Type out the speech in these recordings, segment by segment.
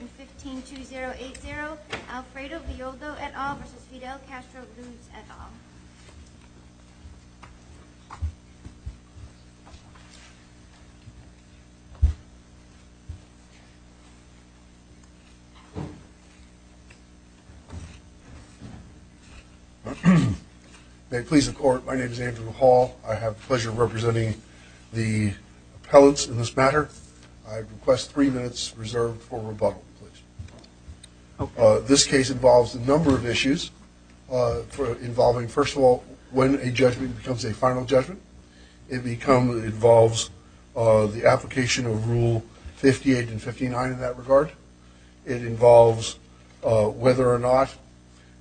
in 15-2080 Alfredo Violdo et al. versus Fidel Castro Ruz et al. May it please the court, my name is Andrew Hall. I have the pleasure of representing the appellants in this matter. I request three minutes reserved for rebuttal. This case involves a number of issues. First of all, when a judgment becomes a final judgment. It involves the application of Rule 58 and 59 in that regard. It involves whether or not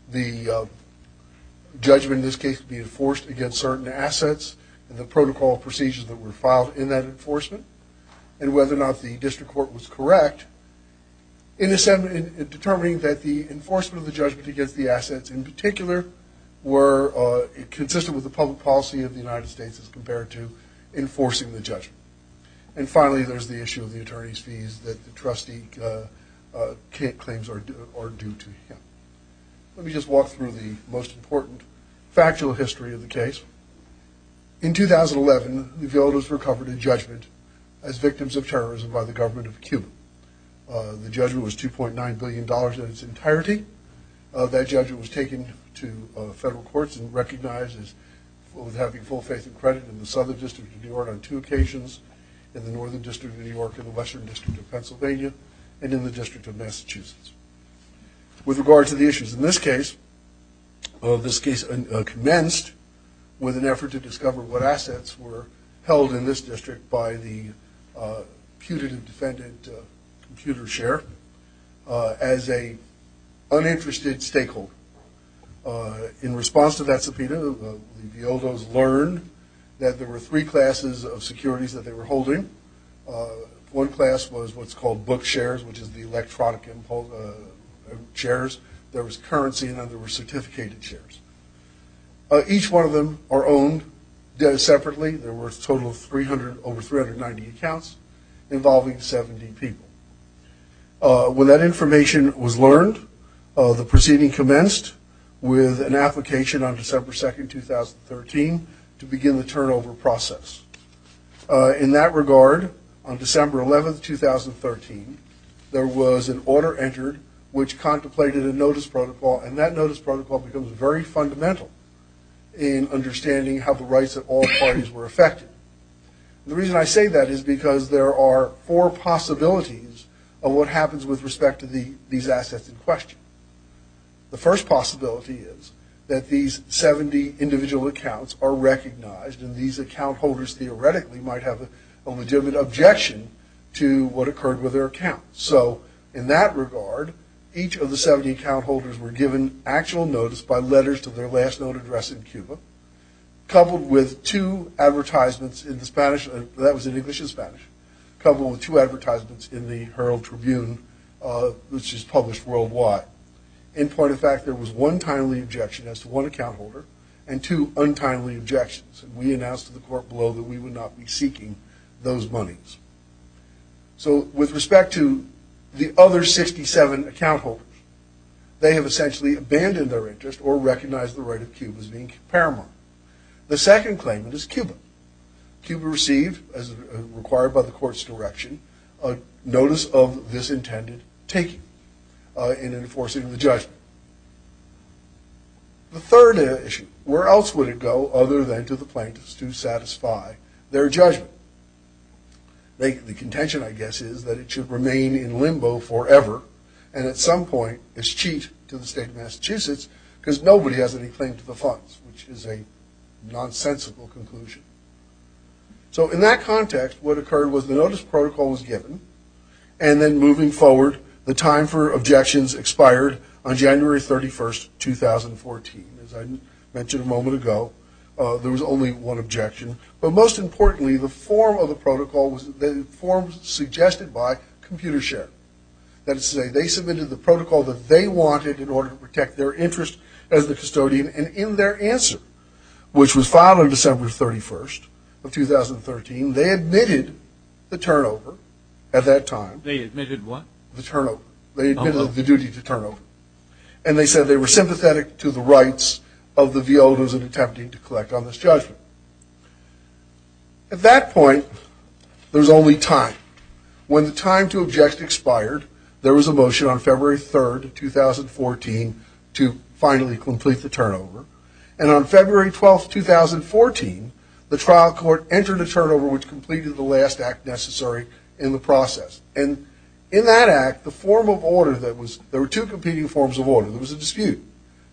the judgment in this case can be enforced against certain assets and the protocol procedures that were filed in that enforcement. And whether or not the district court was correct in determining that the enforcement of the judgment against the assets in particular were consistent with the public policy of the United States as compared to enforcing the judgment. And finally there's the issue of the attorney's fees that the trustee claims are due to him. Let me just walk through the most important factual history of the case. In 2011, the Violdos recovered a judgment as victims of terrorism by the government of Cuba. The judgment was 2.9 billion dollars in its entirety. That judgment was taken to federal courts and recognized as having full faith and credit in the Southern District of New York on two occasions. In the Northern District of New York and the Western District of Pennsylvania and in the District of Massachusetts. With regard to the issues in this case, this case commenced with an effort to discover what assets were held in this district by the putative defendant computer share as a uninterested stakeholder. In response to that subpoena, the Violdos learned that there were three classes of securities that they were holding. One class was what's called book shares, which is the electronic shares. There was currency and then there were certificated shares. Each one of them are owned separately. There were a total of over 390 accounts involving 70 people. When that information was learned, the proceeding commenced with an application on December 2, 2013 to begin the turnover process. In that regard, on December 11, 2013, there was an order entered, which contemplated a notice protocol, and that notice protocol becomes very fundamental in understanding how the rights of all parties were affected. The reason I say that is because there are four possibilities of what happens with respect to these assets in question. The first possibility is that these 70 individual accounts are recognized and these account holders theoretically might have a legitimate objection to what occurred with their account. So in that regard, each of the 70 account holders were given actual notice by letters to their last known address in Cuba, coupled with two advertisements in English and Spanish, coupled with two advertisements in the Herald Tribune, which is published worldwide. In point of fact, there was one timely objection as to one account holder and two untimely objections. We announced to the court below that we would not be seeking those monies. So with respect to the other 67 account holders, they have essentially abandoned their interest or recognized the right of Cuba as being paramount. The second claimant is Cuba. Cuba received, as required by the court's direction, a notice of this intended taking in enforcing the judgment. The third issue. Where else would it go other than to the plaintiffs to satisfy their judgment? The contention, I guess, is that it should remain in limbo forever and at some point is cheat to the state of Massachusetts because nobody has any claim to the funds, which is a nonsensical conclusion. So in that context, what occurred was the notice protocol was given and then moving forward, the time for objections expired on January 31st, 2014. As I mentioned a moment ago, there was only one objection. But most importantly, the form of the protocol was suggested by ComputerShare. That is to say, they submitted the protocol that they wanted in order to protect their interest as the custodian. And in their answer, which was filed on December 31st of 2013, they admitted the turnover at that time. They admitted what? The turnover. They admitted the duty to turnover. And they said they were sympathetic to the rights of the violas and attempting to collect on this judgment. At that point, there was only time. When the time to object expired, there was a motion on February 3rd, 2014, to finally complete the turnover. And on February 12th, 2014, the trial court entered a turnover, which completed the last act necessary in the process. And in that act, the form of order that was – there were two competing forms of order. There was a dispute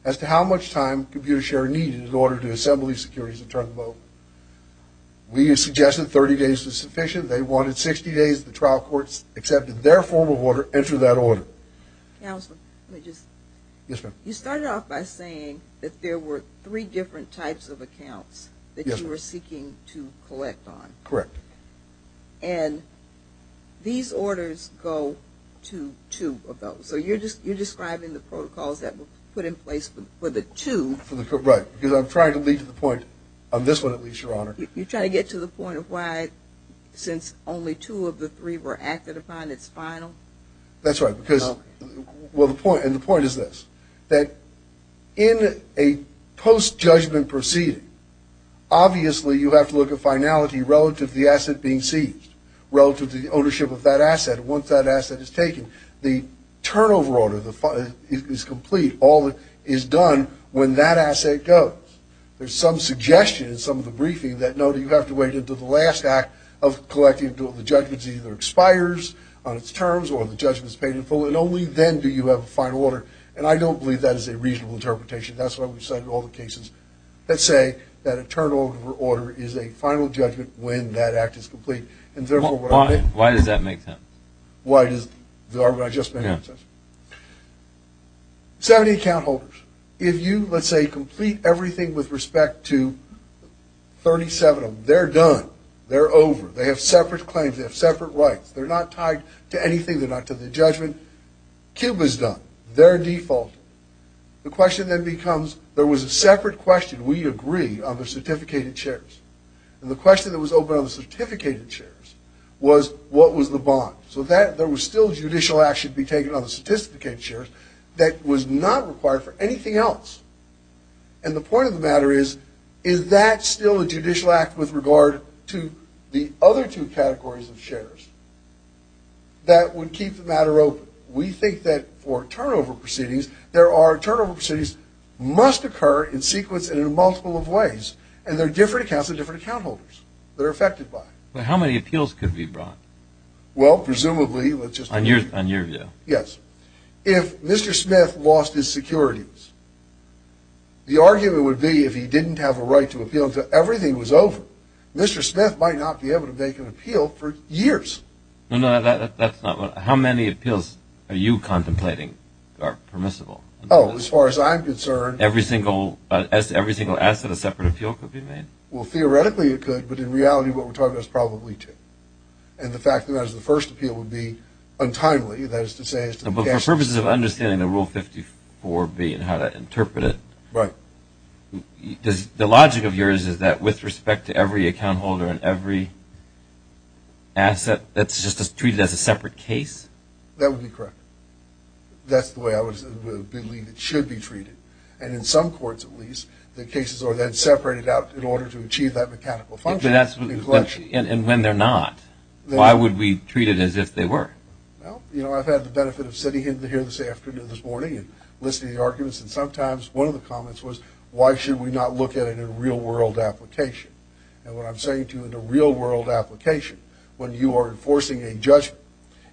as to how much time ComputerShare needed in order to assemble the securities and turn the vote. We suggested 30 days was sufficient. They wanted 60 days. The trial courts accepted their form of order, entered that order. Counsel, let me just – you started off by saying that there were three different types of accounts that you were seeking to collect on. Correct. And these orders go to two of those. So you're describing the protocols that were put in place for the two. Right. Because I'm trying to lead to the point – on this one, at least, Your Honor. You're trying to get to the point of why, since only two of the three were acted upon, it's final? That's right. Because – well, the point – and the point is this, that in a post-judgment proceeding, obviously you have to look at finality relative to the asset being seized, relative to the ownership of that asset. Once that asset is taken, the turnover order is complete. All that is done when that asset goes. There's some suggestion in some of the briefing that, no, you have to wait until the last act of collecting. Until the judgment either expires on its terms or the judgment is paid in full. And only then do you have a final order. And I don't believe that is a reasonable interpretation. That's what we've said in all the cases that say that a turnover order is a final judgment when that act is complete. Why does that make sense? Why does the argument I just made make sense? 70 account holders. If you, let's say, complete everything with respect to 37 of them, they're done. They're over. They have separate claims. They have separate rights. They're not tied to anything. They're not to the judgment. Cube is done. They're default. The question then becomes, there was a separate question. We agree on the certificated shares. And the question that was open on the certificated shares was, what was the bond? So there was still judicial action to be taken on the certificated shares that was not required for anything else. And the point of the matter is, is that still a judicial act with regard to the other two categories of shares? That would keep the matter open. We think that for turnover proceedings, there are turnover proceedings must occur in sequence and in a multiple of ways. And there are different accounts of different account holders that are affected by it. But how many appeals could be brought? Well, presumably, let's just say. On your view. Yes. If Mr. Smith lost his securities, the argument would be if he didn't have a right to appeal until everything was over, Mr. Smith might not be able to make an appeal for years. No, no. That's not what. How many appeals are you contemplating are permissible? Oh, as far as I'm concerned. Every single asset, a separate appeal could be made? Well, theoretically, it could. But in reality, what we're talking about is probably two. And the fact that that was the first appeal would be untimely. That is to say. But for purposes of understanding the Rule 54B and how to interpret it. Right. The logic of yours is that with respect to every account holder and every asset, that's just treated as a separate case? That would be correct. That's the way I believe it should be treated. And in some courts, at least, the cases are then separated out in order to achieve that mechanical function. And when they're not, why would we treat it as if they were? Well, you know, I've had the benefit of sitting in here this afternoon, this morning, and listening to the arguments. And sometimes one of the comments was, why should we not look at it in a real-world application? And what I'm saying to you, in a real-world application, when you are enforcing a judgment,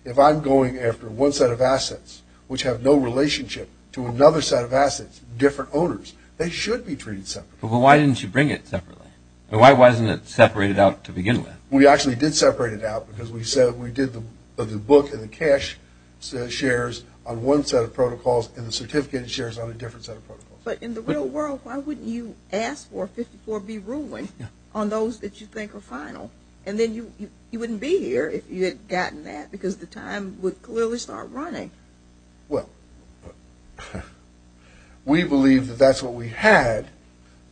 if I'm going after one set of assets which have no relationship to another set of assets, different owners, they should be treated separately. But why didn't you bring it separately? Why wasn't it separated out to begin with? We actually did separate it out because we said we did the book and the cash shares on one set of protocols and the certificate shares on a different set of protocols. But in the real world, why wouldn't you ask for 54B ruling on those that you think are final? And then you wouldn't be here if you had gotten that because the time would clearly start running. Well, we believe that that's what we had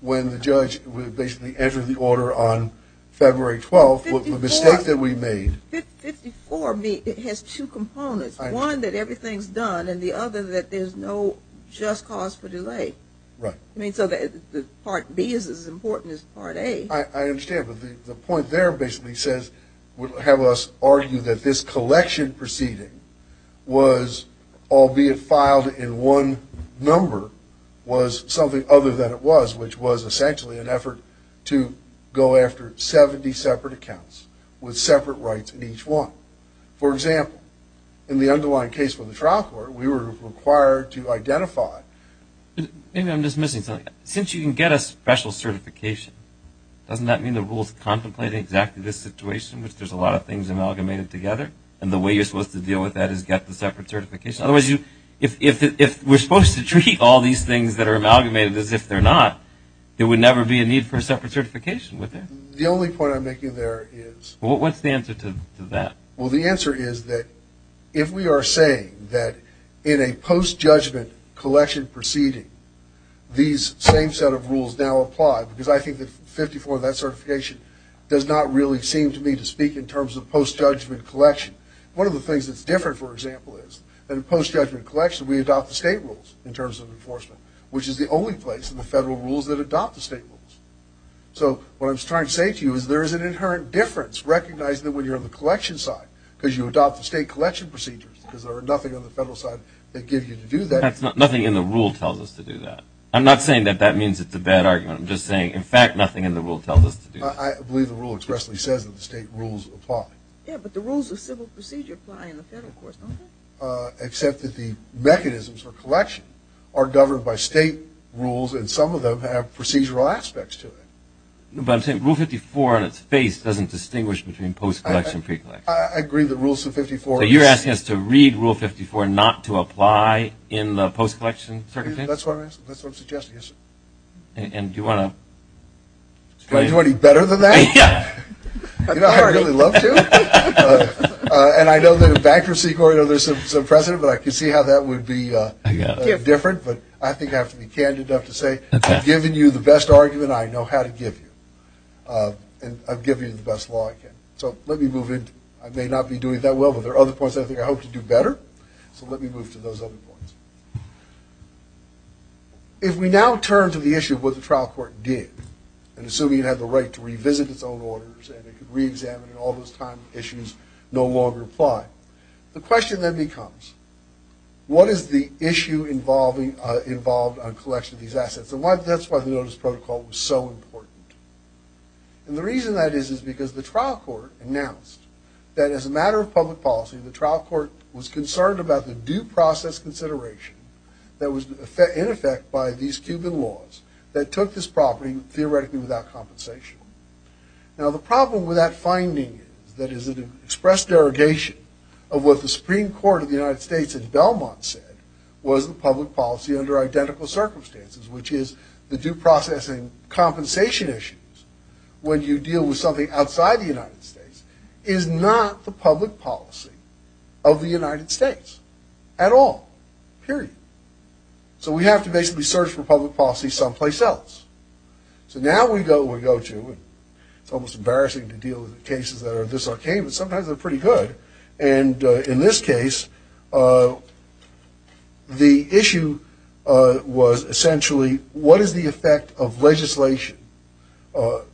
when the judge basically entered the order on February 12th. The mistake that we made. 54B has two components. One, that everything's done. And the other, that there's no just cause for delay. Right. I mean, so Part B is as important as Part A. I understand, but the point there basically says, would have us argue that this collection proceeding was, albeit filed in one number, was something other than it was, which was essentially an effort to go after 70 separate accounts with separate rights in each one. For example, in the underlying case with the trial court, we were required to identify. Maybe I'm just missing something. Since you can get a special certification, doesn't that mean the rule is contemplating exactly this situation, which there's a lot of things amalgamated together, and the way you're supposed to deal with that is get the separate certification? Otherwise, if we're supposed to treat all these things that are amalgamated as if they're not, there would never be a need for a separate certification, would there? The only point I'm making there is. What's the answer to that? Well, the answer is that if we are saying that in a post-judgment collection proceeding, these same set of rules now apply, because I think that 54 of that certification does not really seem to me to speak in terms of post-judgment collection. One of the things that's different, for example, is that in post-judgment collection, we adopt the state rules in terms of enforcement, which is the only place in the federal rules that adopt the state rules. So what I'm trying to say to you is there is an inherent difference. Recognize that when you're on the collection side, because you adopt the state collection procedures, because there are nothing on the federal side that gives you to do that. Nothing in the rule tells us to do that. I'm not saying that that means it's a bad argument. I'm just saying, in fact, nothing in the rule tells us to do that. I believe the rule expressly says that the state rules apply. Yeah, but the rules of civil procedure apply in the federal courts, don't they? Except that the mechanisms for collection are governed by state rules, and some of them have procedural aspects to them. But I'm saying Rule 54 on its face doesn't distinguish between post-collection and pre-collection. I agree that Rule 54 is – So you're asking us to read Rule 54 not to apply in the post-collection circumstances? That's what I'm suggesting, yes, sir. And do you want to – Is 2020 better than that? Yeah. You know, I'd really love to. And I know that in bankruptcy court, there's some precedent, but I can see how that would be different. But I think I have to be candid enough to say I've given you the best argument I know how to give you. And I've given you the best law I can. So let me move into – I may not be doing it that well, but there are other points I think I hope to do better. So let me move to those other points. If we now turn to the issue of what the trial court did, and assuming it had the right to revisit its own orders, and it could reexamine all those time issues no longer apply, the question then becomes, what is the issue involved on collection of these assets? And that's why the notice protocol was so important. And the reason that is is because the trial court announced that as a matter of public policy, the trial court was concerned about the due process consideration that was in effect by these Cuban laws that took this property theoretically without compensation. Now the problem with that finding is that it is an expressed derogation of what the Supreme Court of the United States in Belmont said was the public policy under identical circumstances, which is the due process and compensation issues when you deal with something outside the United States is not the public policy of the United States at all, period. So we have to basically search for public policy someplace else. So now we go to, it's almost embarrassing to deal with cases that are this archaic, but sometimes they're pretty good. And in this case, the issue was essentially what is the effect of legislation,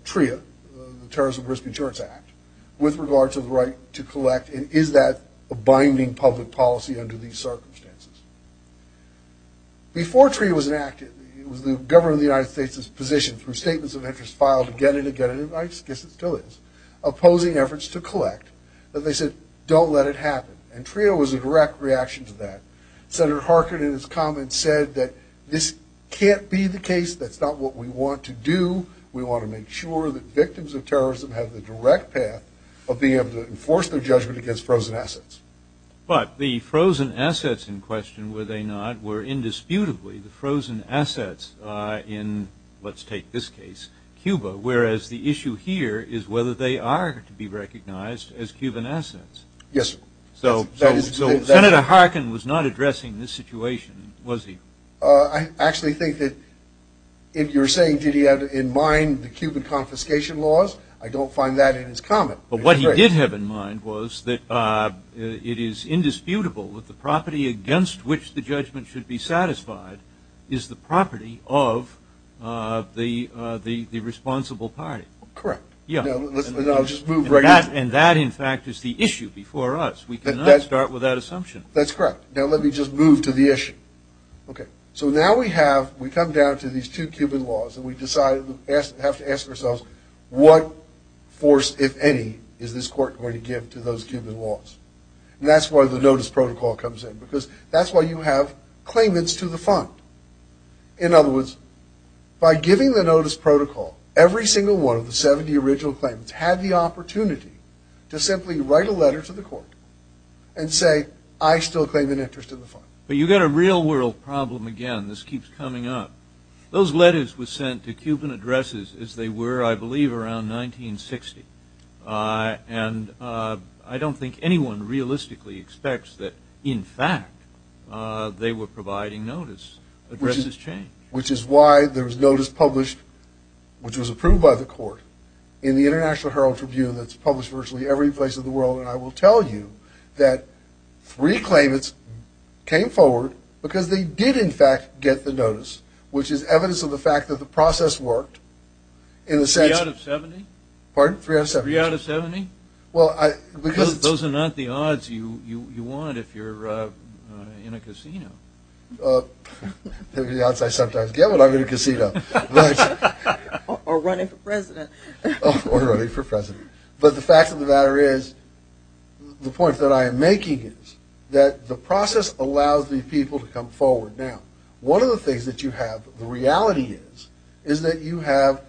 TRIA, the Terrorism and Risk Insurance Act, with regard to the right to collect, and is that a binding public policy under these circumstances? Before TRIA was enacted, it was the government of the United States' position through statements of interest filed again and again, and I guess it still is, opposing efforts to collect. But they said, don't let it happen. And TRIA was a direct reaction to that. Senator Harkin in his comments said that this can't be the case. That's not what we want to do. We want to make sure that victims of terrorism have the direct path of being able to enforce their judgment against frozen assets. But the frozen assets in question, were they not, were indisputably the frozen assets in, let's take this case, Cuba, whereas the issue here is whether they are to be recognized as Cuban assets. Yes. So Senator Harkin was not addressing this situation, was he? I actually think that if you're saying did he have in mind the Cuban confiscation laws, I don't find that in his comment. But what he did have in mind was that it is indisputable that the property against which the judgment should be satisfied is the property of the responsible party. Correct. And that, in fact, is the issue before us. We cannot start without assumption. That's correct. Now let me just move to the issue. Okay. We have to ask ourselves what force, if any, is this court going to give to those Cuban laws? And that's where the notice protocol comes in because that's why you have claimants to the fund. In other words, by giving the notice protocol, every single one of the 70 original claimants had the opportunity to simply write a letter to the court and say, I still claim an interest in the fund. But you've got a real world problem again. This keeps coming up. Those letters were sent to Cuban addresses as they were, I believe, around 1960. And I don't think anyone realistically expects that, in fact, they were providing notice. Addresses change. Which is why there was notice published, which was approved by the court, in the International Herald-Tribune that's published virtually every place in the world. And I will tell you that three claimants came forward because they did, in fact, get the notice, which is evidence of the fact that the process worked. Three out of 70? Pardon? Three out of 70. Three out of 70? Because those are not the odds you want if you're in a casino. The odds I sometimes get when I'm in a casino. Or running for president. Or running for president. But the fact of the matter is, the point that I am making is that the process allows these people to come forward. Now, one of the things that you have, the reality is, is that you have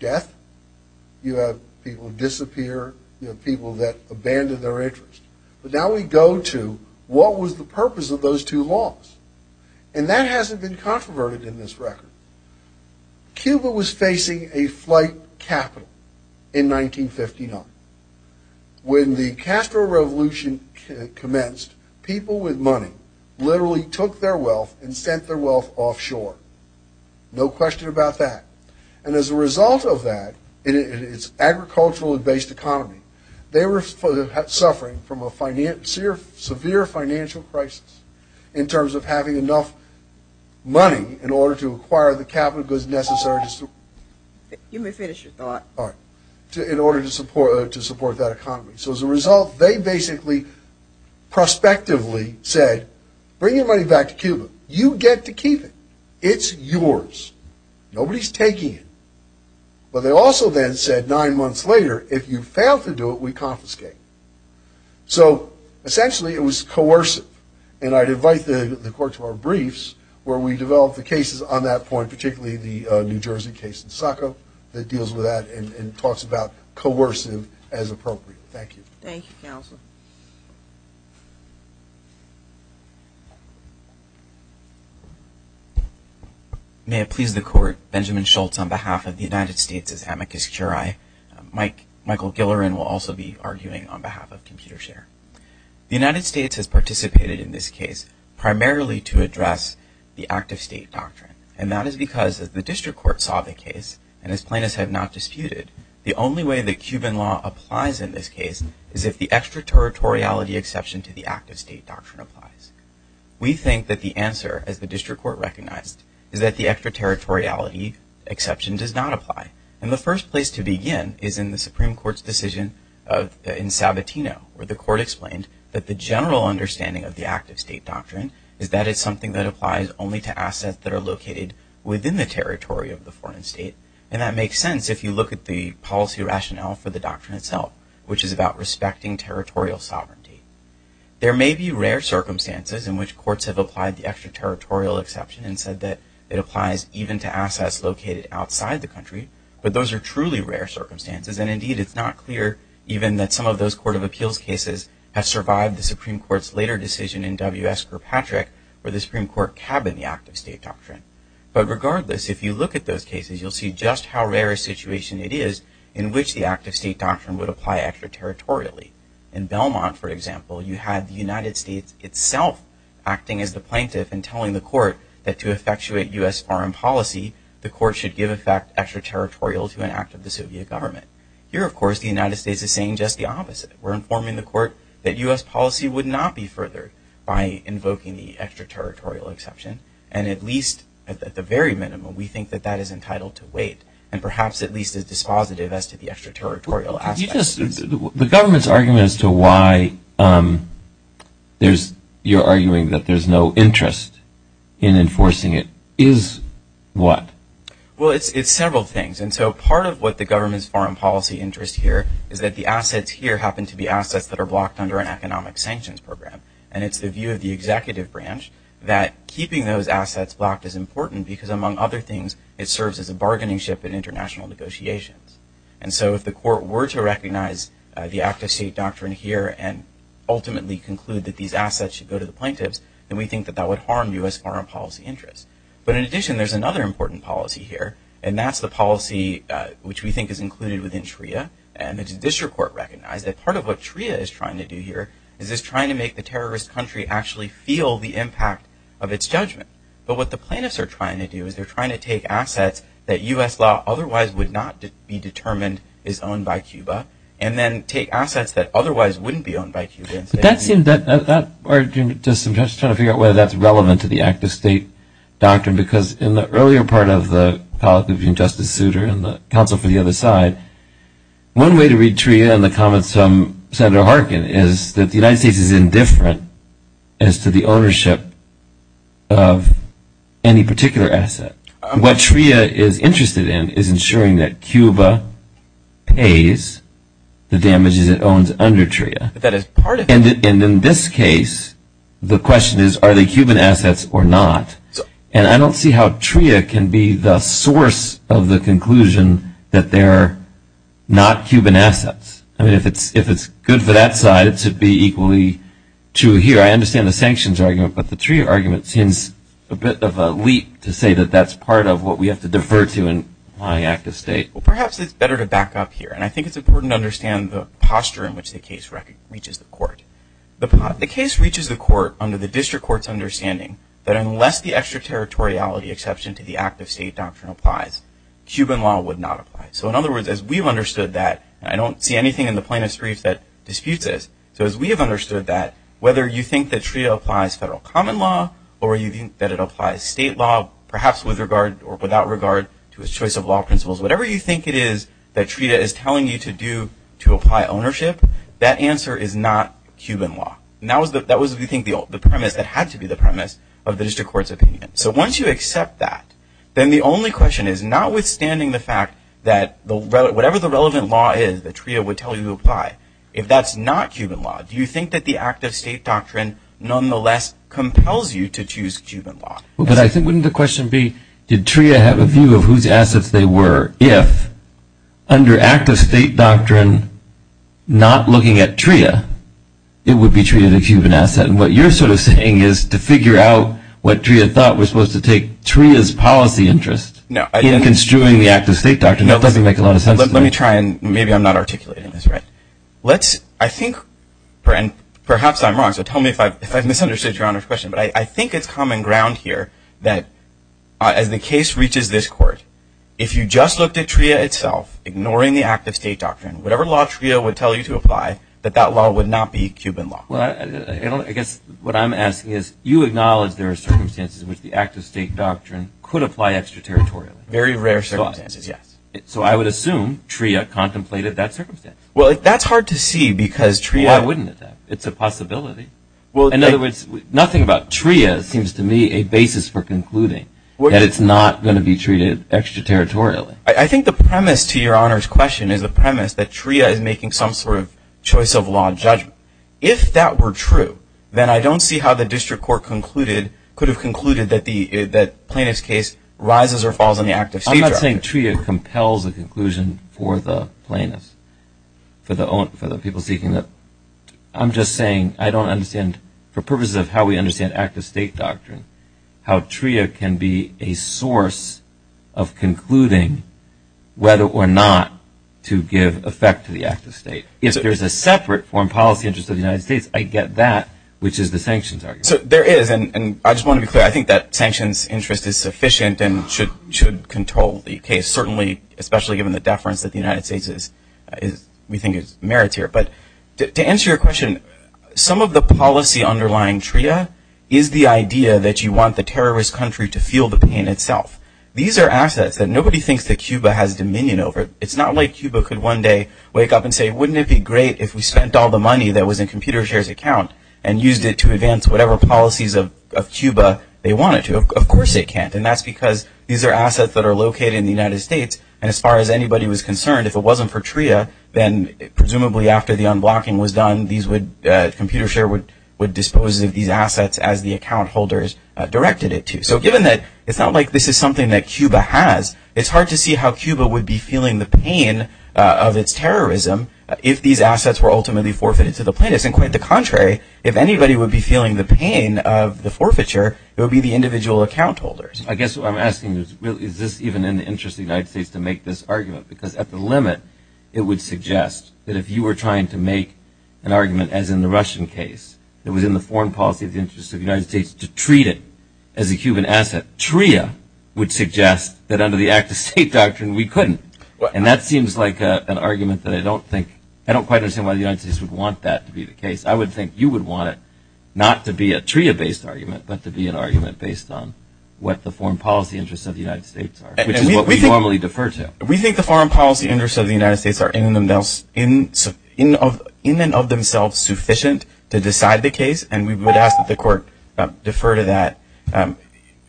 death. You have people disappear. You have people that abandon their interest. But now we go to what was the purpose of those two laws. And that hasn't been controverted in this record. Cuba was facing a flight capital in 1959. When the Castro Revolution commenced, people with money literally took their wealth and sent their wealth offshore. No question about that. And as a result of that, in its agricultural-based economy, they were suffering from a severe financial crisis in terms of having enough money in order to acquire the capital goods necessary to support that economy. So as a result, they basically prospectively said, bring your money back to Cuba. You get to keep it. It's yours. Nobody's taking it. But they also then said nine months later, if you fail to do it, we confiscate it. So essentially it was coercive. And I'd invite the Court to our briefs where we develop the cases on that point, particularly the New Jersey case in Saco that deals with that and talks about coercive as appropriate. Thank you. Thank you, Counselor. May it please the Court, Benjamin Schultz on behalf of the United States' amicus curiae. Michael Gilleran will also be arguing on behalf of ComputerShare. The United States has participated in this case primarily to address the act-of-state doctrine. And that is because, as the District Court saw the case, and as plaintiffs have not disputed, the only way that Cuban law applies in this case is if the extraterritoriality exception to the act-of-state doctrine applies. We think that the answer, as the District Court recognized, is that the extraterritoriality exception does not apply. And the first place to begin is in the Supreme Court's decision in Sabatino, where the Court explained that the general understanding of the act-of-state doctrine is that it's something that applies only to assets that are located within the territory of the foreign state. And that makes sense if you look at the policy rationale for the doctrine itself, which is about respecting territorial sovereignty. There may be rare circumstances in which courts have applied the extraterritorial exception and said that it applies even to assets located outside the country. But those are truly rare circumstances. And indeed, it's not clear even that some of those Court of Appeals cases have survived the Supreme Court's later decision in W.S. Kirkpatrick where the Supreme Court cabined the act-of-state doctrine. But regardless, if you look at those cases, you'll see just how rare a situation it is in which the act-of-state doctrine would apply extraterritorially. In Belmont, for example, you had the United States itself acting as the plaintiff and telling the court that to effectuate U.S. foreign policy, the court should give effect extraterritorial to an act of the Soviet government. Here, of course, the United States is saying just the opposite. We're informing the court that U.S. policy would not be furthered by invoking the extraterritorial exception. And at least at the very minimum, we think that that is entitled to wait and perhaps at least as dispositive as to the extraterritorial aspect. The government's argument as to why you're arguing that there's no interest in enforcing it is what? Well, it's several things. And so part of what the government's foreign policy interest here is that the assets here happen to be assets that are blocked under an economic sanctions program. And it's the view of the executive branch that keeping those assets blocked is important because, among other things, it serves as a bargaining ship in international negotiations. And so if the court were to recognize the active state doctrine here and ultimately conclude that these assets should go to the plaintiffs, then we think that that would harm U.S. foreign policy interest. But in addition, there's another important policy here, and that's the policy which we think is included within TRIA. And the judicial court recognized that part of what TRIA is trying to do here is it's trying to make the terrorist country actually feel the impact of its judgment. But what the plaintiffs are trying to do is they're trying to take assets that U.S. law otherwise would not be determined is owned by Cuba and then take assets that otherwise wouldn't be owned by Cuba. But that seems that that argument does suggest trying to figure out whether that's relevant to the active state doctrine because in the earlier part of the colleague between Justice Souter and the counsel for the other side, one way to read TRIA in the comments from Senator Harkin is that the United States is indifferent as to the ownership of any particular asset. What TRIA is interested in is ensuring that Cuba pays the damages it owns under TRIA. And in this case, the question is, are they Cuban assets or not? And I don't see how TRIA can be the source of the conclusion that they're not Cuban assets. I mean, if it's good for that side, it should be equally true here. I understand the sanctions argument, but the TRIA argument seems a bit of a leap to say that that's part of what we have to defer to in applying active state. Well, perhaps it's better to back up here, and I think it's important to understand the posture in which the case reaches the court. The case reaches the court under the district court's understanding that unless the extraterritoriality exception to the active state doctrine applies, Cuban law would not apply. So in other words, as we've understood that, and I don't see anything in the plaintiff's brief that disputes this, so as we have understood that, whether you think that TRIA applies federal common law or you think that it applies state law, perhaps with regard or without regard to its choice of law principles, whatever you think it is that TRIA is telling you to do to apply ownership, that answer is not Cuban law. That was, we think, the premise that had to be the premise of the district court's opinion. So once you accept that, then the only question is, notwithstanding the fact that whatever the relevant law is that TRIA would tell you to apply, if that's not Cuban law, do you think that the active state doctrine, nonetheless, compels you to choose Cuban law? But I think wouldn't the question be, did TRIA have a view of whose assets they were? If, under active state doctrine, not looking at TRIA, it would be treated as a Cuban asset, and what you're sort of saying is to figure out what TRIA thought was supposed to take TRIA's policy interest in construing the active state doctrine doesn't make a lot of sense to me. Let me try and maybe I'm not articulating this right. Let's, I think, and perhaps I'm wrong, so tell me if I've misunderstood Your Honor's question, but I think it's common ground here that as the case reaches this court, if you just looked at TRIA itself, ignoring the active state doctrine, whatever law TRIA would tell you to apply, that that law would not be Cuban law. Well, I guess what I'm asking is, you acknowledge there are circumstances in which the active state doctrine could apply extraterritorially. Very rare circumstances, yes. So I would assume TRIA contemplated that circumstance. Well, that's hard to see because TRIA- Well, I wouldn't attack it. It's a possibility. In other words, nothing about TRIA seems to me a basis for concluding that it's not going to be treated extraterritorially. I think the premise to Your Honor's question is the premise that TRIA is making some sort of choice of law judgment. If that were true, then I don't see how the district court concluded, could have concluded that plaintiff's case rises or falls on the active state doctrine. I'm not saying TRIA compels a conclusion for the plaintiffs, for the people seeking it. I'm just saying I don't understand, for purposes of how we understand active state doctrine, how TRIA can be a source of concluding whether or not to give effect to the active state. If there's a separate foreign policy interest of the United States, I get that, which is the sanctions argument. There is, and I just want to be clear. I think that sanctions interest is sufficient and should control the case, certainly especially given the deference that the United States, we think, merits here. But to answer your question, some of the policy underlying TRIA is the idea that you want the terrorist country to feel the pain itself. These are assets that nobody thinks that Cuba has dominion over. It's not like Cuba could one day wake up and say, wouldn't it be great if we spent all the money that was in ComputerShare's account and used it to advance whatever policies of Cuba they wanted to. Of course it can't, and that's because these are assets that are located in the United States, and as far as anybody was concerned, if it wasn't for TRIA, then presumably after the unblocking was done, ComputerShare would dispose of these assets as the account holders directed it to. So given that it's not like this is something that Cuba has, it's hard to see how Cuba would be feeling the pain of its terrorism if these assets were ultimately forfeited to the plaintiffs. And quite the contrary, if anybody would be feeling the pain of the forfeiture, it would be the individual account holders. I guess what I'm asking is, is this even in the interest of the United States to make this argument? Because at the limit, it would suggest that if you were trying to make an argument, as in the Russian case, that was in the foreign policy of the interest of the United States to treat it as a Cuban asset, that TRIA would suggest that under the Act of State doctrine, we couldn't. And that seems like an argument that I don't think, I don't quite understand why the United States would want that to be the case. I would think you would want it not to be a TRIA-based argument, but to be an argument based on what the foreign policy interests of the United States are, which is what we normally defer to. We think the foreign policy interests of the United States are in and of themselves sufficient to decide the case, and we would ask that the court defer to that.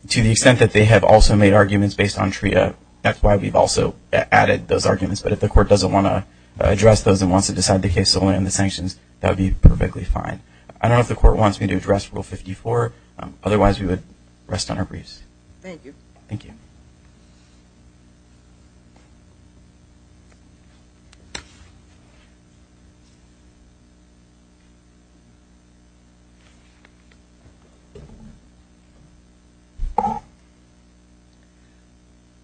To the extent that they have also made arguments based on TRIA, that's why we've also added those arguments. But if the court doesn't want to address those and wants to decide the case solely on the sanctions, that would be perfectly fine. I don't know if the court wants me to address Rule 54. Otherwise, we would rest on our briefs. Thank you. Thank you.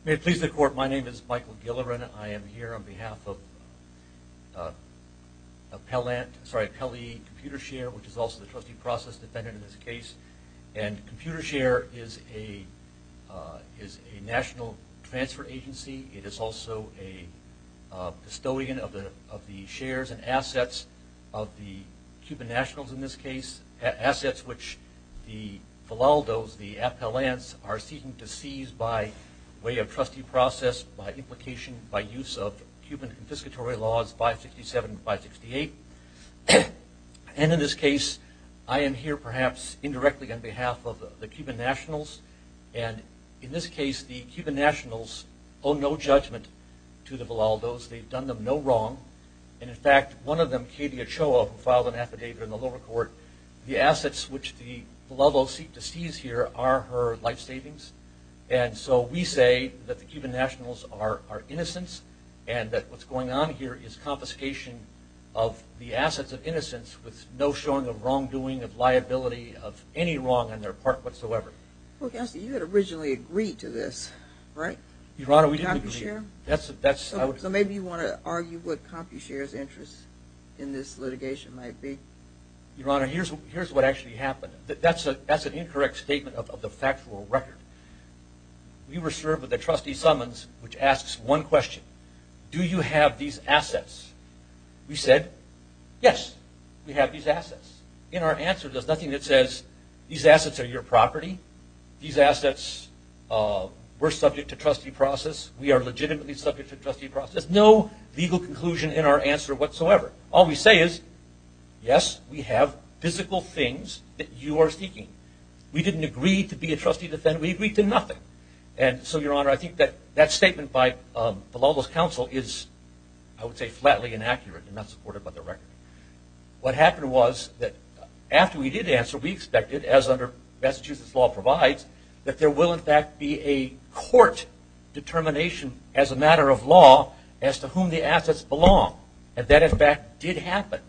May it please the court, my name is Michael Gilleran. I am here on behalf of Pelley Computer Share, which is also the trustee process defendant in this case. And Computer Share is a national transfer agency. It is also a custodian of the shares and assets of the Cuban nationals in this case, assets which the Valdos, the Apelans, are seeking to seize by way of trustee process, by implication, by use of Cuban confiscatory laws 567 and 568. And in this case, I am here perhaps indirectly on behalf of the Cuban nationals. And in this case, the Cuban nationals owe no judgment to the Valdos. They've done them no wrong. And, in fact, one of them, Katie Ochoa, who filed an affidavit in the lower court, the assets which the Valdos seek to seize here are her life savings. And so we say that the Cuban nationals are innocents and that what's going on here is confiscation of the assets of innocents with no showing of wrongdoing, of liability, of any wrong on their part whatsoever. Well, Counselor, you had originally agreed to this, right? Your Honor, we didn't agree. So maybe you want to argue what Congress is doing. What the confucius interest in this litigation might be. Your Honor, here's what actually happened. That's an incorrect statement of the factual record. We were served with a trustee summons which asks one question. Do you have these assets? We said, yes, we have these assets. In our answer, there's nothing that says these assets are your property. These assets were subject to trustee process. We are legitimately subject to trustee process. There's no legal conclusion in our answer whatsoever. All we say is, yes, we have physical things that you are seeking. We didn't agree to be a trustee defendant. We agreed to nothing. And so, Your Honor, I think that that statement by the Valdos Counsel is, I would say, flatly inaccurate and not supported by the record. What happened was that after we did answer, we expected, as under Massachusetts law provides, that there will, in fact, be a court determination as a matter of law as to whom the assets belong. And that, in fact, did happen.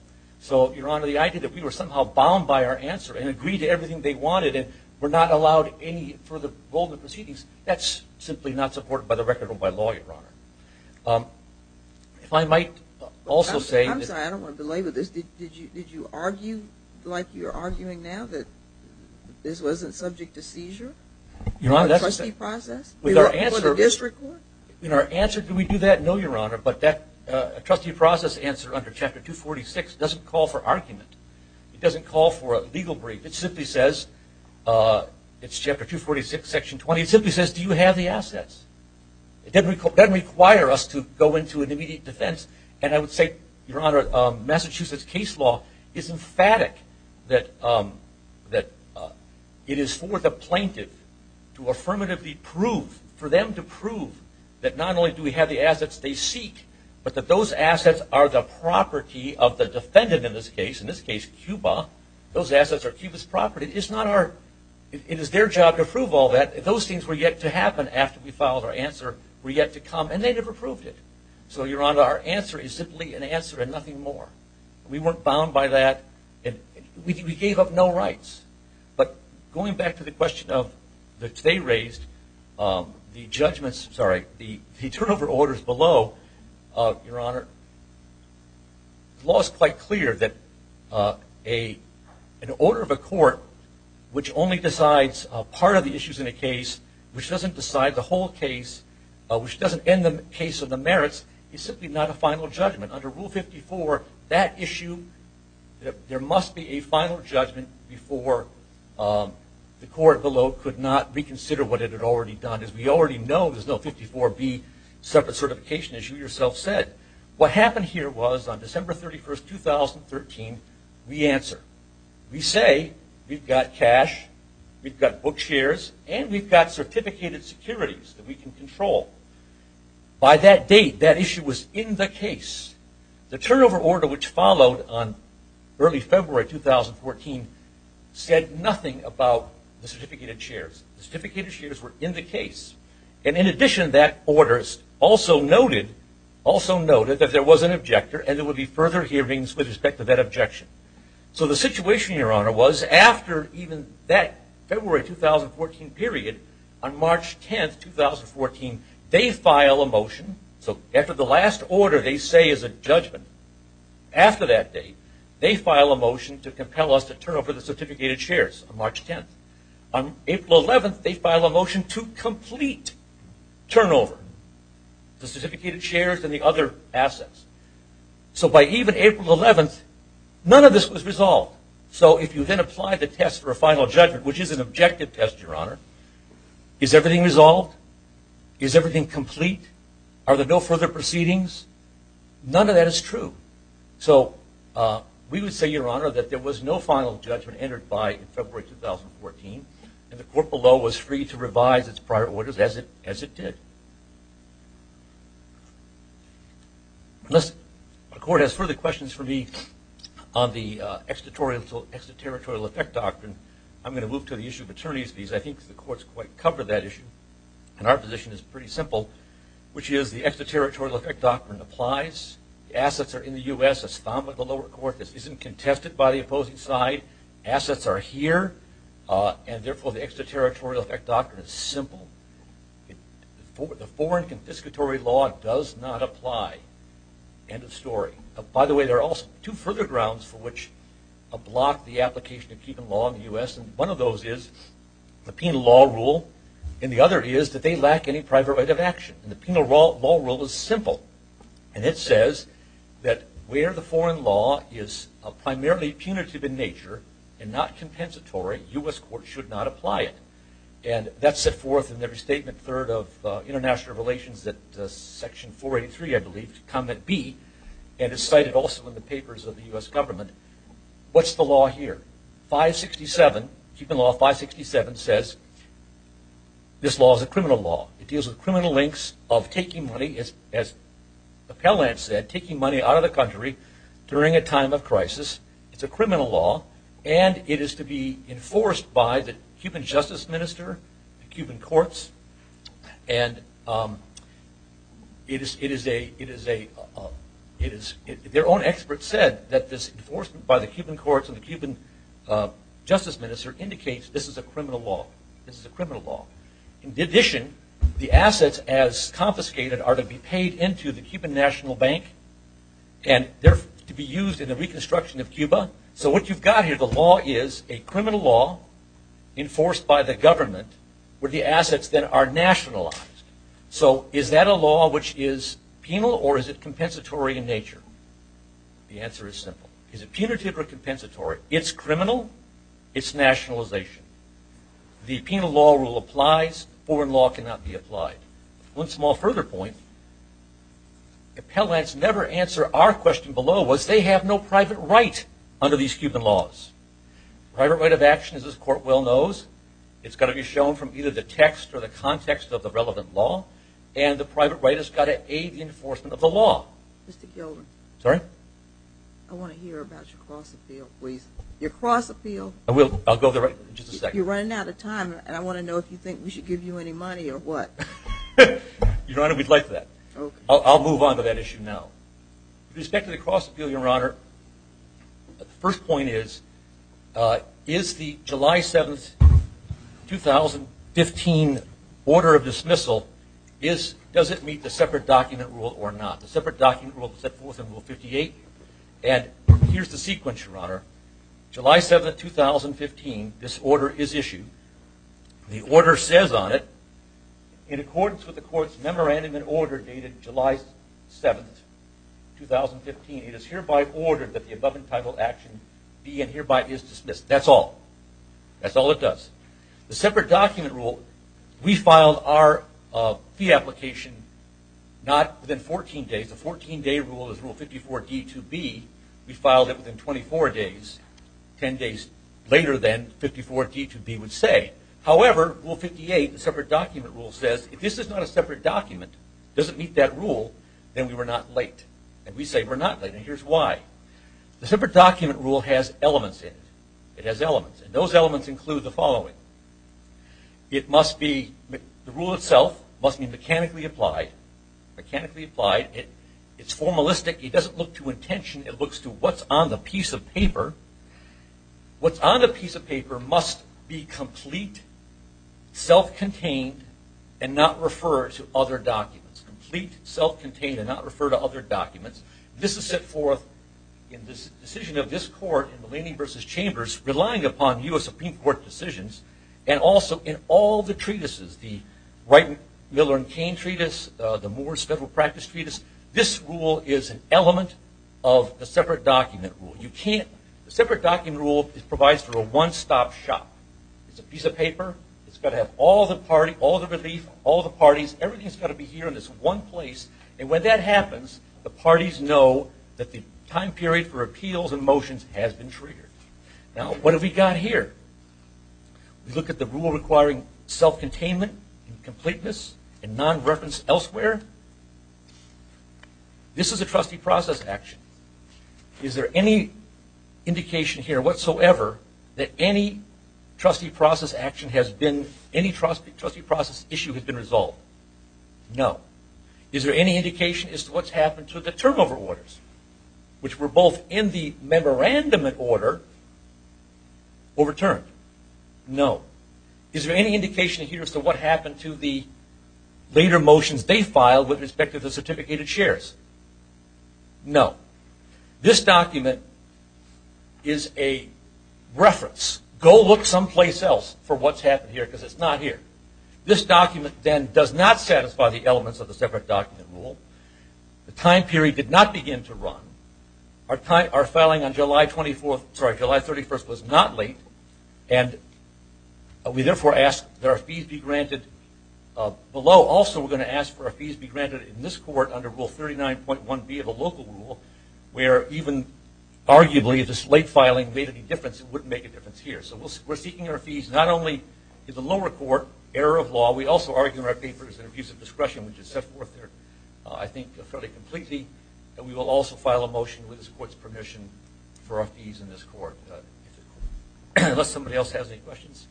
So, Your Honor, the idea that we were somehow bound by our answer and agreed to everything they wanted and were not allowed any further role in the proceedings, that's simply not supported by the record or by law, Your Honor. If I might also say that – I'm sorry, I don't want to delay with this. Did you argue, like you're arguing now, that this wasn't subject to seizure? Your Honor, that's a – Or a trustee process? With our answer – For the district court? In our answer, did we do that? No, Your Honor. But that trustee process answer under Chapter 246 doesn't call for argument. It doesn't call for a legal brief. It simply says – it's Chapter 246, Section 20. It simply says, do you have the assets? It doesn't require us to go into an immediate defense. And I would say, Your Honor, Massachusetts case law is emphatic that it is for the plaintiff to affirmatively prove, for them to prove, that not only do we have the assets they seek, but that those assets are the property of the defendant in this case, in this case Cuba. Those assets are Cuba's property. It's not our – it is their job to prove all that. Those things were yet to happen after we filed our answer, were yet to come, and they never proved it. So, Your Honor, our answer is simply an answer and nothing more. We weren't bound by that. We gave up no rights. But going back to the question that they raised, the judgments – sorry – the turnover orders below, Your Honor, the law is quite clear that an order of a court which only decides part of the issues in a case, which doesn't decide the whole case, which doesn't end the case of the merits, is simply not a final judgment. Under Rule 54, that issue, there must be a final judgment before the court below could not reconsider what it had already done. As we already know, there's no 54B separate certification, as you yourself said. What happened here was on December 31, 2013, we answer. We say we've got cash, we've got book shares, and we've got certificated securities that we can control. By that date, that issue was in the case. The turnover order, which followed on early February 2014, said nothing about the certificated shares. The certificated shares were in the case. And in addition, that order also noted that there was an objector and there would be further hearings with respect to that objection. So the situation, Your Honor, was after even that February 2014 period, on March 10, 2014, they file a motion. So after the last order they say is a judgment, after that date, they file a motion to compel us to turn over the certificated shares on March 10. On April 11, they file a motion to complete turnover, the certificated shares and the other assets. So by even April 11, none of this was resolved. So if you then apply the test for a final judgment, which is an objective test, Your Honor, is everything resolved? Is everything complete? Are there no further proceedings? None of that is true. So we would say, Your Honor, that there was no final judgment entered by February 2014, and the court below was free to revise its prior orders as it did. Unless the court has further questions for me on the extraterritorial effect doctrine, I'm going to move to the issue of attorneys' fees. I think the courts quite covered that issue, and our position is pretty simple, which is the extraterritorial effect doctrine applies. The assets are in the U.S. It's found by the lower court. This isn't contested by the opposing side. Assets are here, and, therefore, the extraterritorial effect doctrine is simple. The foreign confiscatory law does not apply. End of story. By the way, there are also two further grounds for which a block the application of keeping law in the U.S., and one of those is the penal law rule, and the other is that they lack any private right of action. The penal law rule is simple, and it says that where the foreign law is primarily punitive in nature and not compensatory, U.S. courts should not apply it, and that's set forth in every statement third of international relations that section 483, I believe, comment B, and it's cited also in the papers of the U.S. government. What's the law here? 567, keeping law 567, says this law is a criminal law. It deals with criminal links of taking money, as Appellant said, taking money out of the country during a time of crisis. It's a criminal law, and it is to be enforced by the Cuban justice minister, the Cuban courts, and their own experts said that this enforcement by the Cuban courts and the Cuban justice minister indicates this is a criminal law. This is a criminal law. In addition, the assets, as confiscated, are to be paid into the Cuban National Bank, and they're to be used in the reconstruction of Cuba. So what you've got here, the law is a criminal law enforced by the government where the assets then are nationalized. So is that a law which is penal, or is it compensatory in nature? The answer is simple. Is it punitive or compensatory? It's criminal. It's nationalization. The penal law rule applies. Foreign law cannot be applied. One small further point. Appellants never answer our question below, was they have no private right under these Cuban laws. Private right of action, as this court well knows, it's got to be shown from either the text or the context of the relevant law, and the private right has got to aid enforcement of the law. Mr. Gilden. Sorry? I want to hear about your cross-appeal, please. Your cross-appeal. I will. I'll go there in just a second. You're running out of time, and I want to know if you think we should give you any money or what. Your Honor, we'd like that. I'll move on to that issue now. With respect to the cross-appeal, Your Honor, the first point is, is the July 7, 2015, order of dismissal, does it meet the separate document rule or not? The separate document rule set forth in Rule 58, and here's the sequence, Your Honor. July 7, 2015, this order is issued. The order says on it, in accordance with the court's memorandum and order dated July 7, 2015, it is hereby ordered that the above entitled action be and hereby is dismissed. That's all. That's all it does. The separate document rule, we filed our fee application not within 14 days. The 14-day rule is Rule 54D2B. We filed it within 24 days, 10 days later than 54D2B would say. However, Rule 58, the separate document rule says, if this is not a separate document, doesn't meet that rule, then we were not late. And we say we're not late, and here's why. The separate document rule has elements in it. It has elements, and those elements include the following. It must be, the rule itself must be mechanically applied, mechanically applied. It's formalistic. It doesn't look to intention. It looks to what's on the piece of paper. What's on the piece of paper must be complete, self-contained, and not refer to other documents. Complete, self-contained, and not refer to other documents. This is set forth in this decision of this court in Mullaney v. Chambers, relying upon U.S. Supreme Court decisions, and also in all the treatises, the Wright, Miller, and Cain treatise, the Moore's Federal Practice treatise. This rule is an element of the separate document rule. You can't, the separate document rule provides for a one-stop shop. It's a piece of paper. It's got to have all the parties, all the relief, all the parties, everything's got to be here in this one place. And when that happens, the parties know that the time period for appeals and motions has been triggered. Now, what have we got here? We look at the rule requiring self-containment and completeness and non-reference elsewhere. This is a trustee process action. Is there any indication here whatsoever that any trustee process action has been, any trustee process issue has been resolved? No. Is there any indication as to what's happened to the turnover orders, which were both in the memorandum order overturned? No. Is there any indication here as to what happened to the later motions they filed with respect to the certificated shares? No. This document is a reference. Go look someplace else for what's happened here because it's not here. This document then does not satisfy the elements of the separate document rule. The time period did not begin to run. Our filing on July 31st was not late, and we therefore ask that our fees be granted below. Also, we're going to ask for our fees be granted in this court under Rule 39.1B of the local rule where even arguably this late filing made any difference and wouldn't make a difference here. So we're seeking our fees not only in the lower court, error of law. We also argue in our papers in abuse of discretion, which is set forth there, I think, fairly completely. And we will also file a motion with this court's permission for our fees in this court. Unless somebody else has any questions,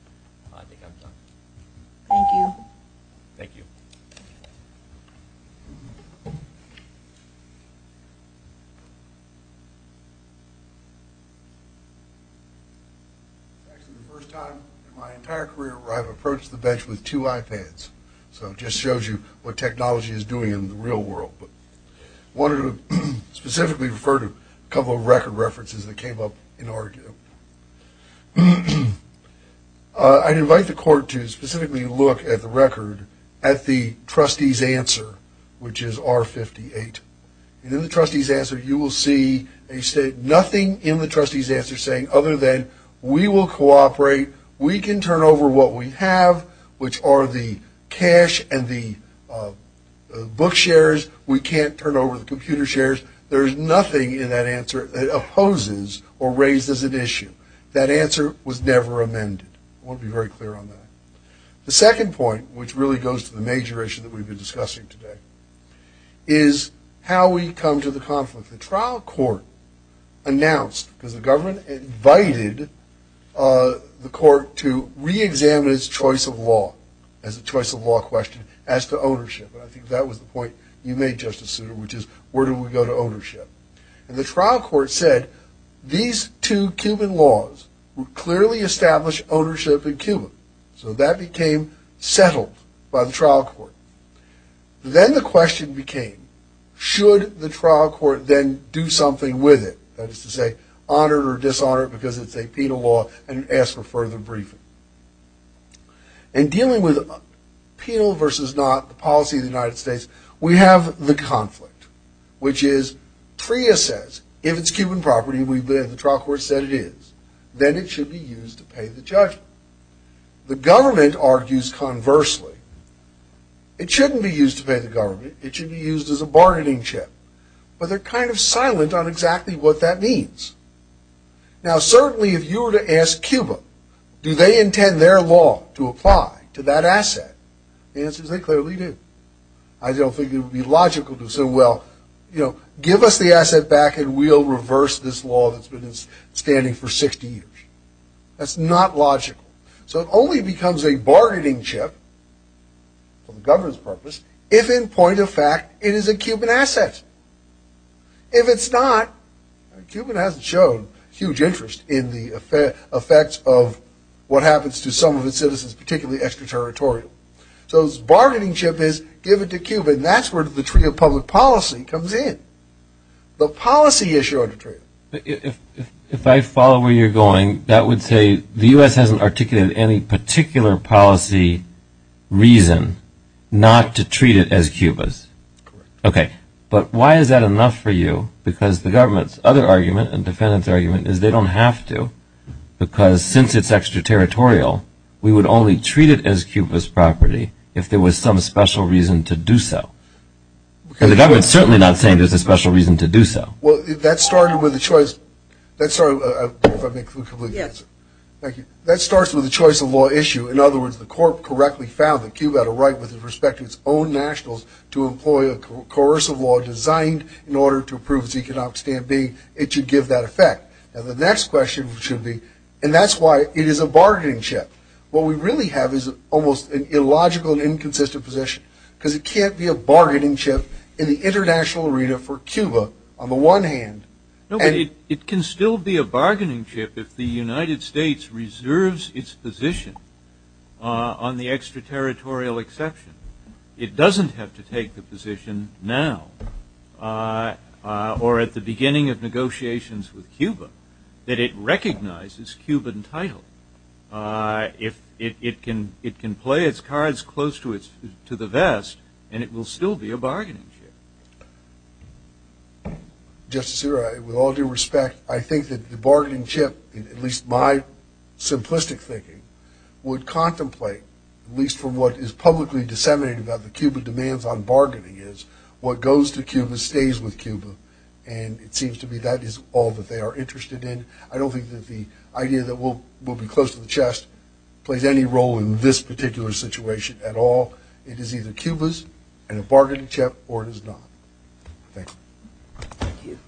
I think I'm done. Thank you. Thank you. Actually, the first time in my entire career where I've approached the bench with two iPads. So it just shows you what technology is doing in the real world. But I wanted to specifically refer to a couple of record references that came up in our group. I'd invite the court to specifically look at the record at the trustee's answer, which is R58. And in the trustee's answer, you will see nothing in the trustee's answer saying other than we will cooperate. We can turn over what we have, which are the cash and the book shares. We can't turn over the computer shares. There is nothing in that answer that opposes or raises an issue. That answer was never amended. I want to be very clear on that. The second point, which really goes to the major issue that we've been discussing today, is how we come to the conflict. The trial court announced, because the government invited the court to reexamine its choice of law, as a choice of law question, as to ownership. And I think that was the point you made, Justice Souter, which is where do we go to ownership? And the trial court said these two Cuban laws would clearly establish ownership in Cuba. So that became settled by the trial court. Then the question became, should the trial court then do something with it, that is to say, honor it or dishonor it because it's a penal law and ask for further briefing? In dealing with penal versus not, the policy of the United States, we have the conflict, which is TRIA says if it's Cuban property, we've been at the trial court said it is, then it should be used to pay the judge. The government argues conversely. It shouldn't be used to pay the government. It should be used as a bargaining chip. But they're kind of silent on exactly what that means. Now, certainly if you were to ask Cuba, do they intend their law to apply to that asset, the answer is they clearly do. I don't think it would be logical to say, well, you know, give us the asset back and we'll reverse this law that's been standing for 60 years. That's not logical. So it only becomes a bargaining chip for the government's purpose if in point of fact it is a Cuban asset. If it's not, Cuba hasn't shown huge interest in the effects of what happens to some of its citizens, particularly extraterritorial. So its bargaining chip is give it to Cuba, and that's where the TRIA public policy comes in. The policy issue under TRIA. If I follow where you're going, that would say the U.S. hasn't articulated any particular policy reason not to treat it as Cuba's. Okay. But why is that enough for you? Because the government's other argument and defendant's argument is they don't have to, because since it's extraterritorial, we would only treat it as Cuba's property if there was some special reason to do so. And the government's certainly not saying there's a special reason to do so. Well, that started with a choice. That started with a choice of law issue. In other words, the court correctly found that Cuba had a right with respect to its own nationals to employ a coercive law designed in order to prove its economic standing. It should give that effect. And the next question should be, and that's why it is a bargaining chip. What we really have is almost an illogical and inconsistent position because it can't be a bargaining chip in the international arena for Cuba on the one hand. No, but it can still be a bargaining chip if the United States reserves its position on the extraterritorial exception. It doesn't have to take the position now or at the beginning of negotiations with Cuba that it recognizes Cuban title. It can play its cards close to the vest, and it will still be a bargaining chip. Justice Zero, with all due respect, I think that the bargaining chip, at least my simplistic thinking, would contemplate, at least from what is publicly disseminated about the Cuba demands on bargaining, is what goes to Cuba stays with Cuba. And it seems to me that is all that they are interested in. I don't think that the idea that we'll be close to the chest plays any role in this particular situation at all. It is either Cuba's and a bargaining chip, or it is not. Thank you.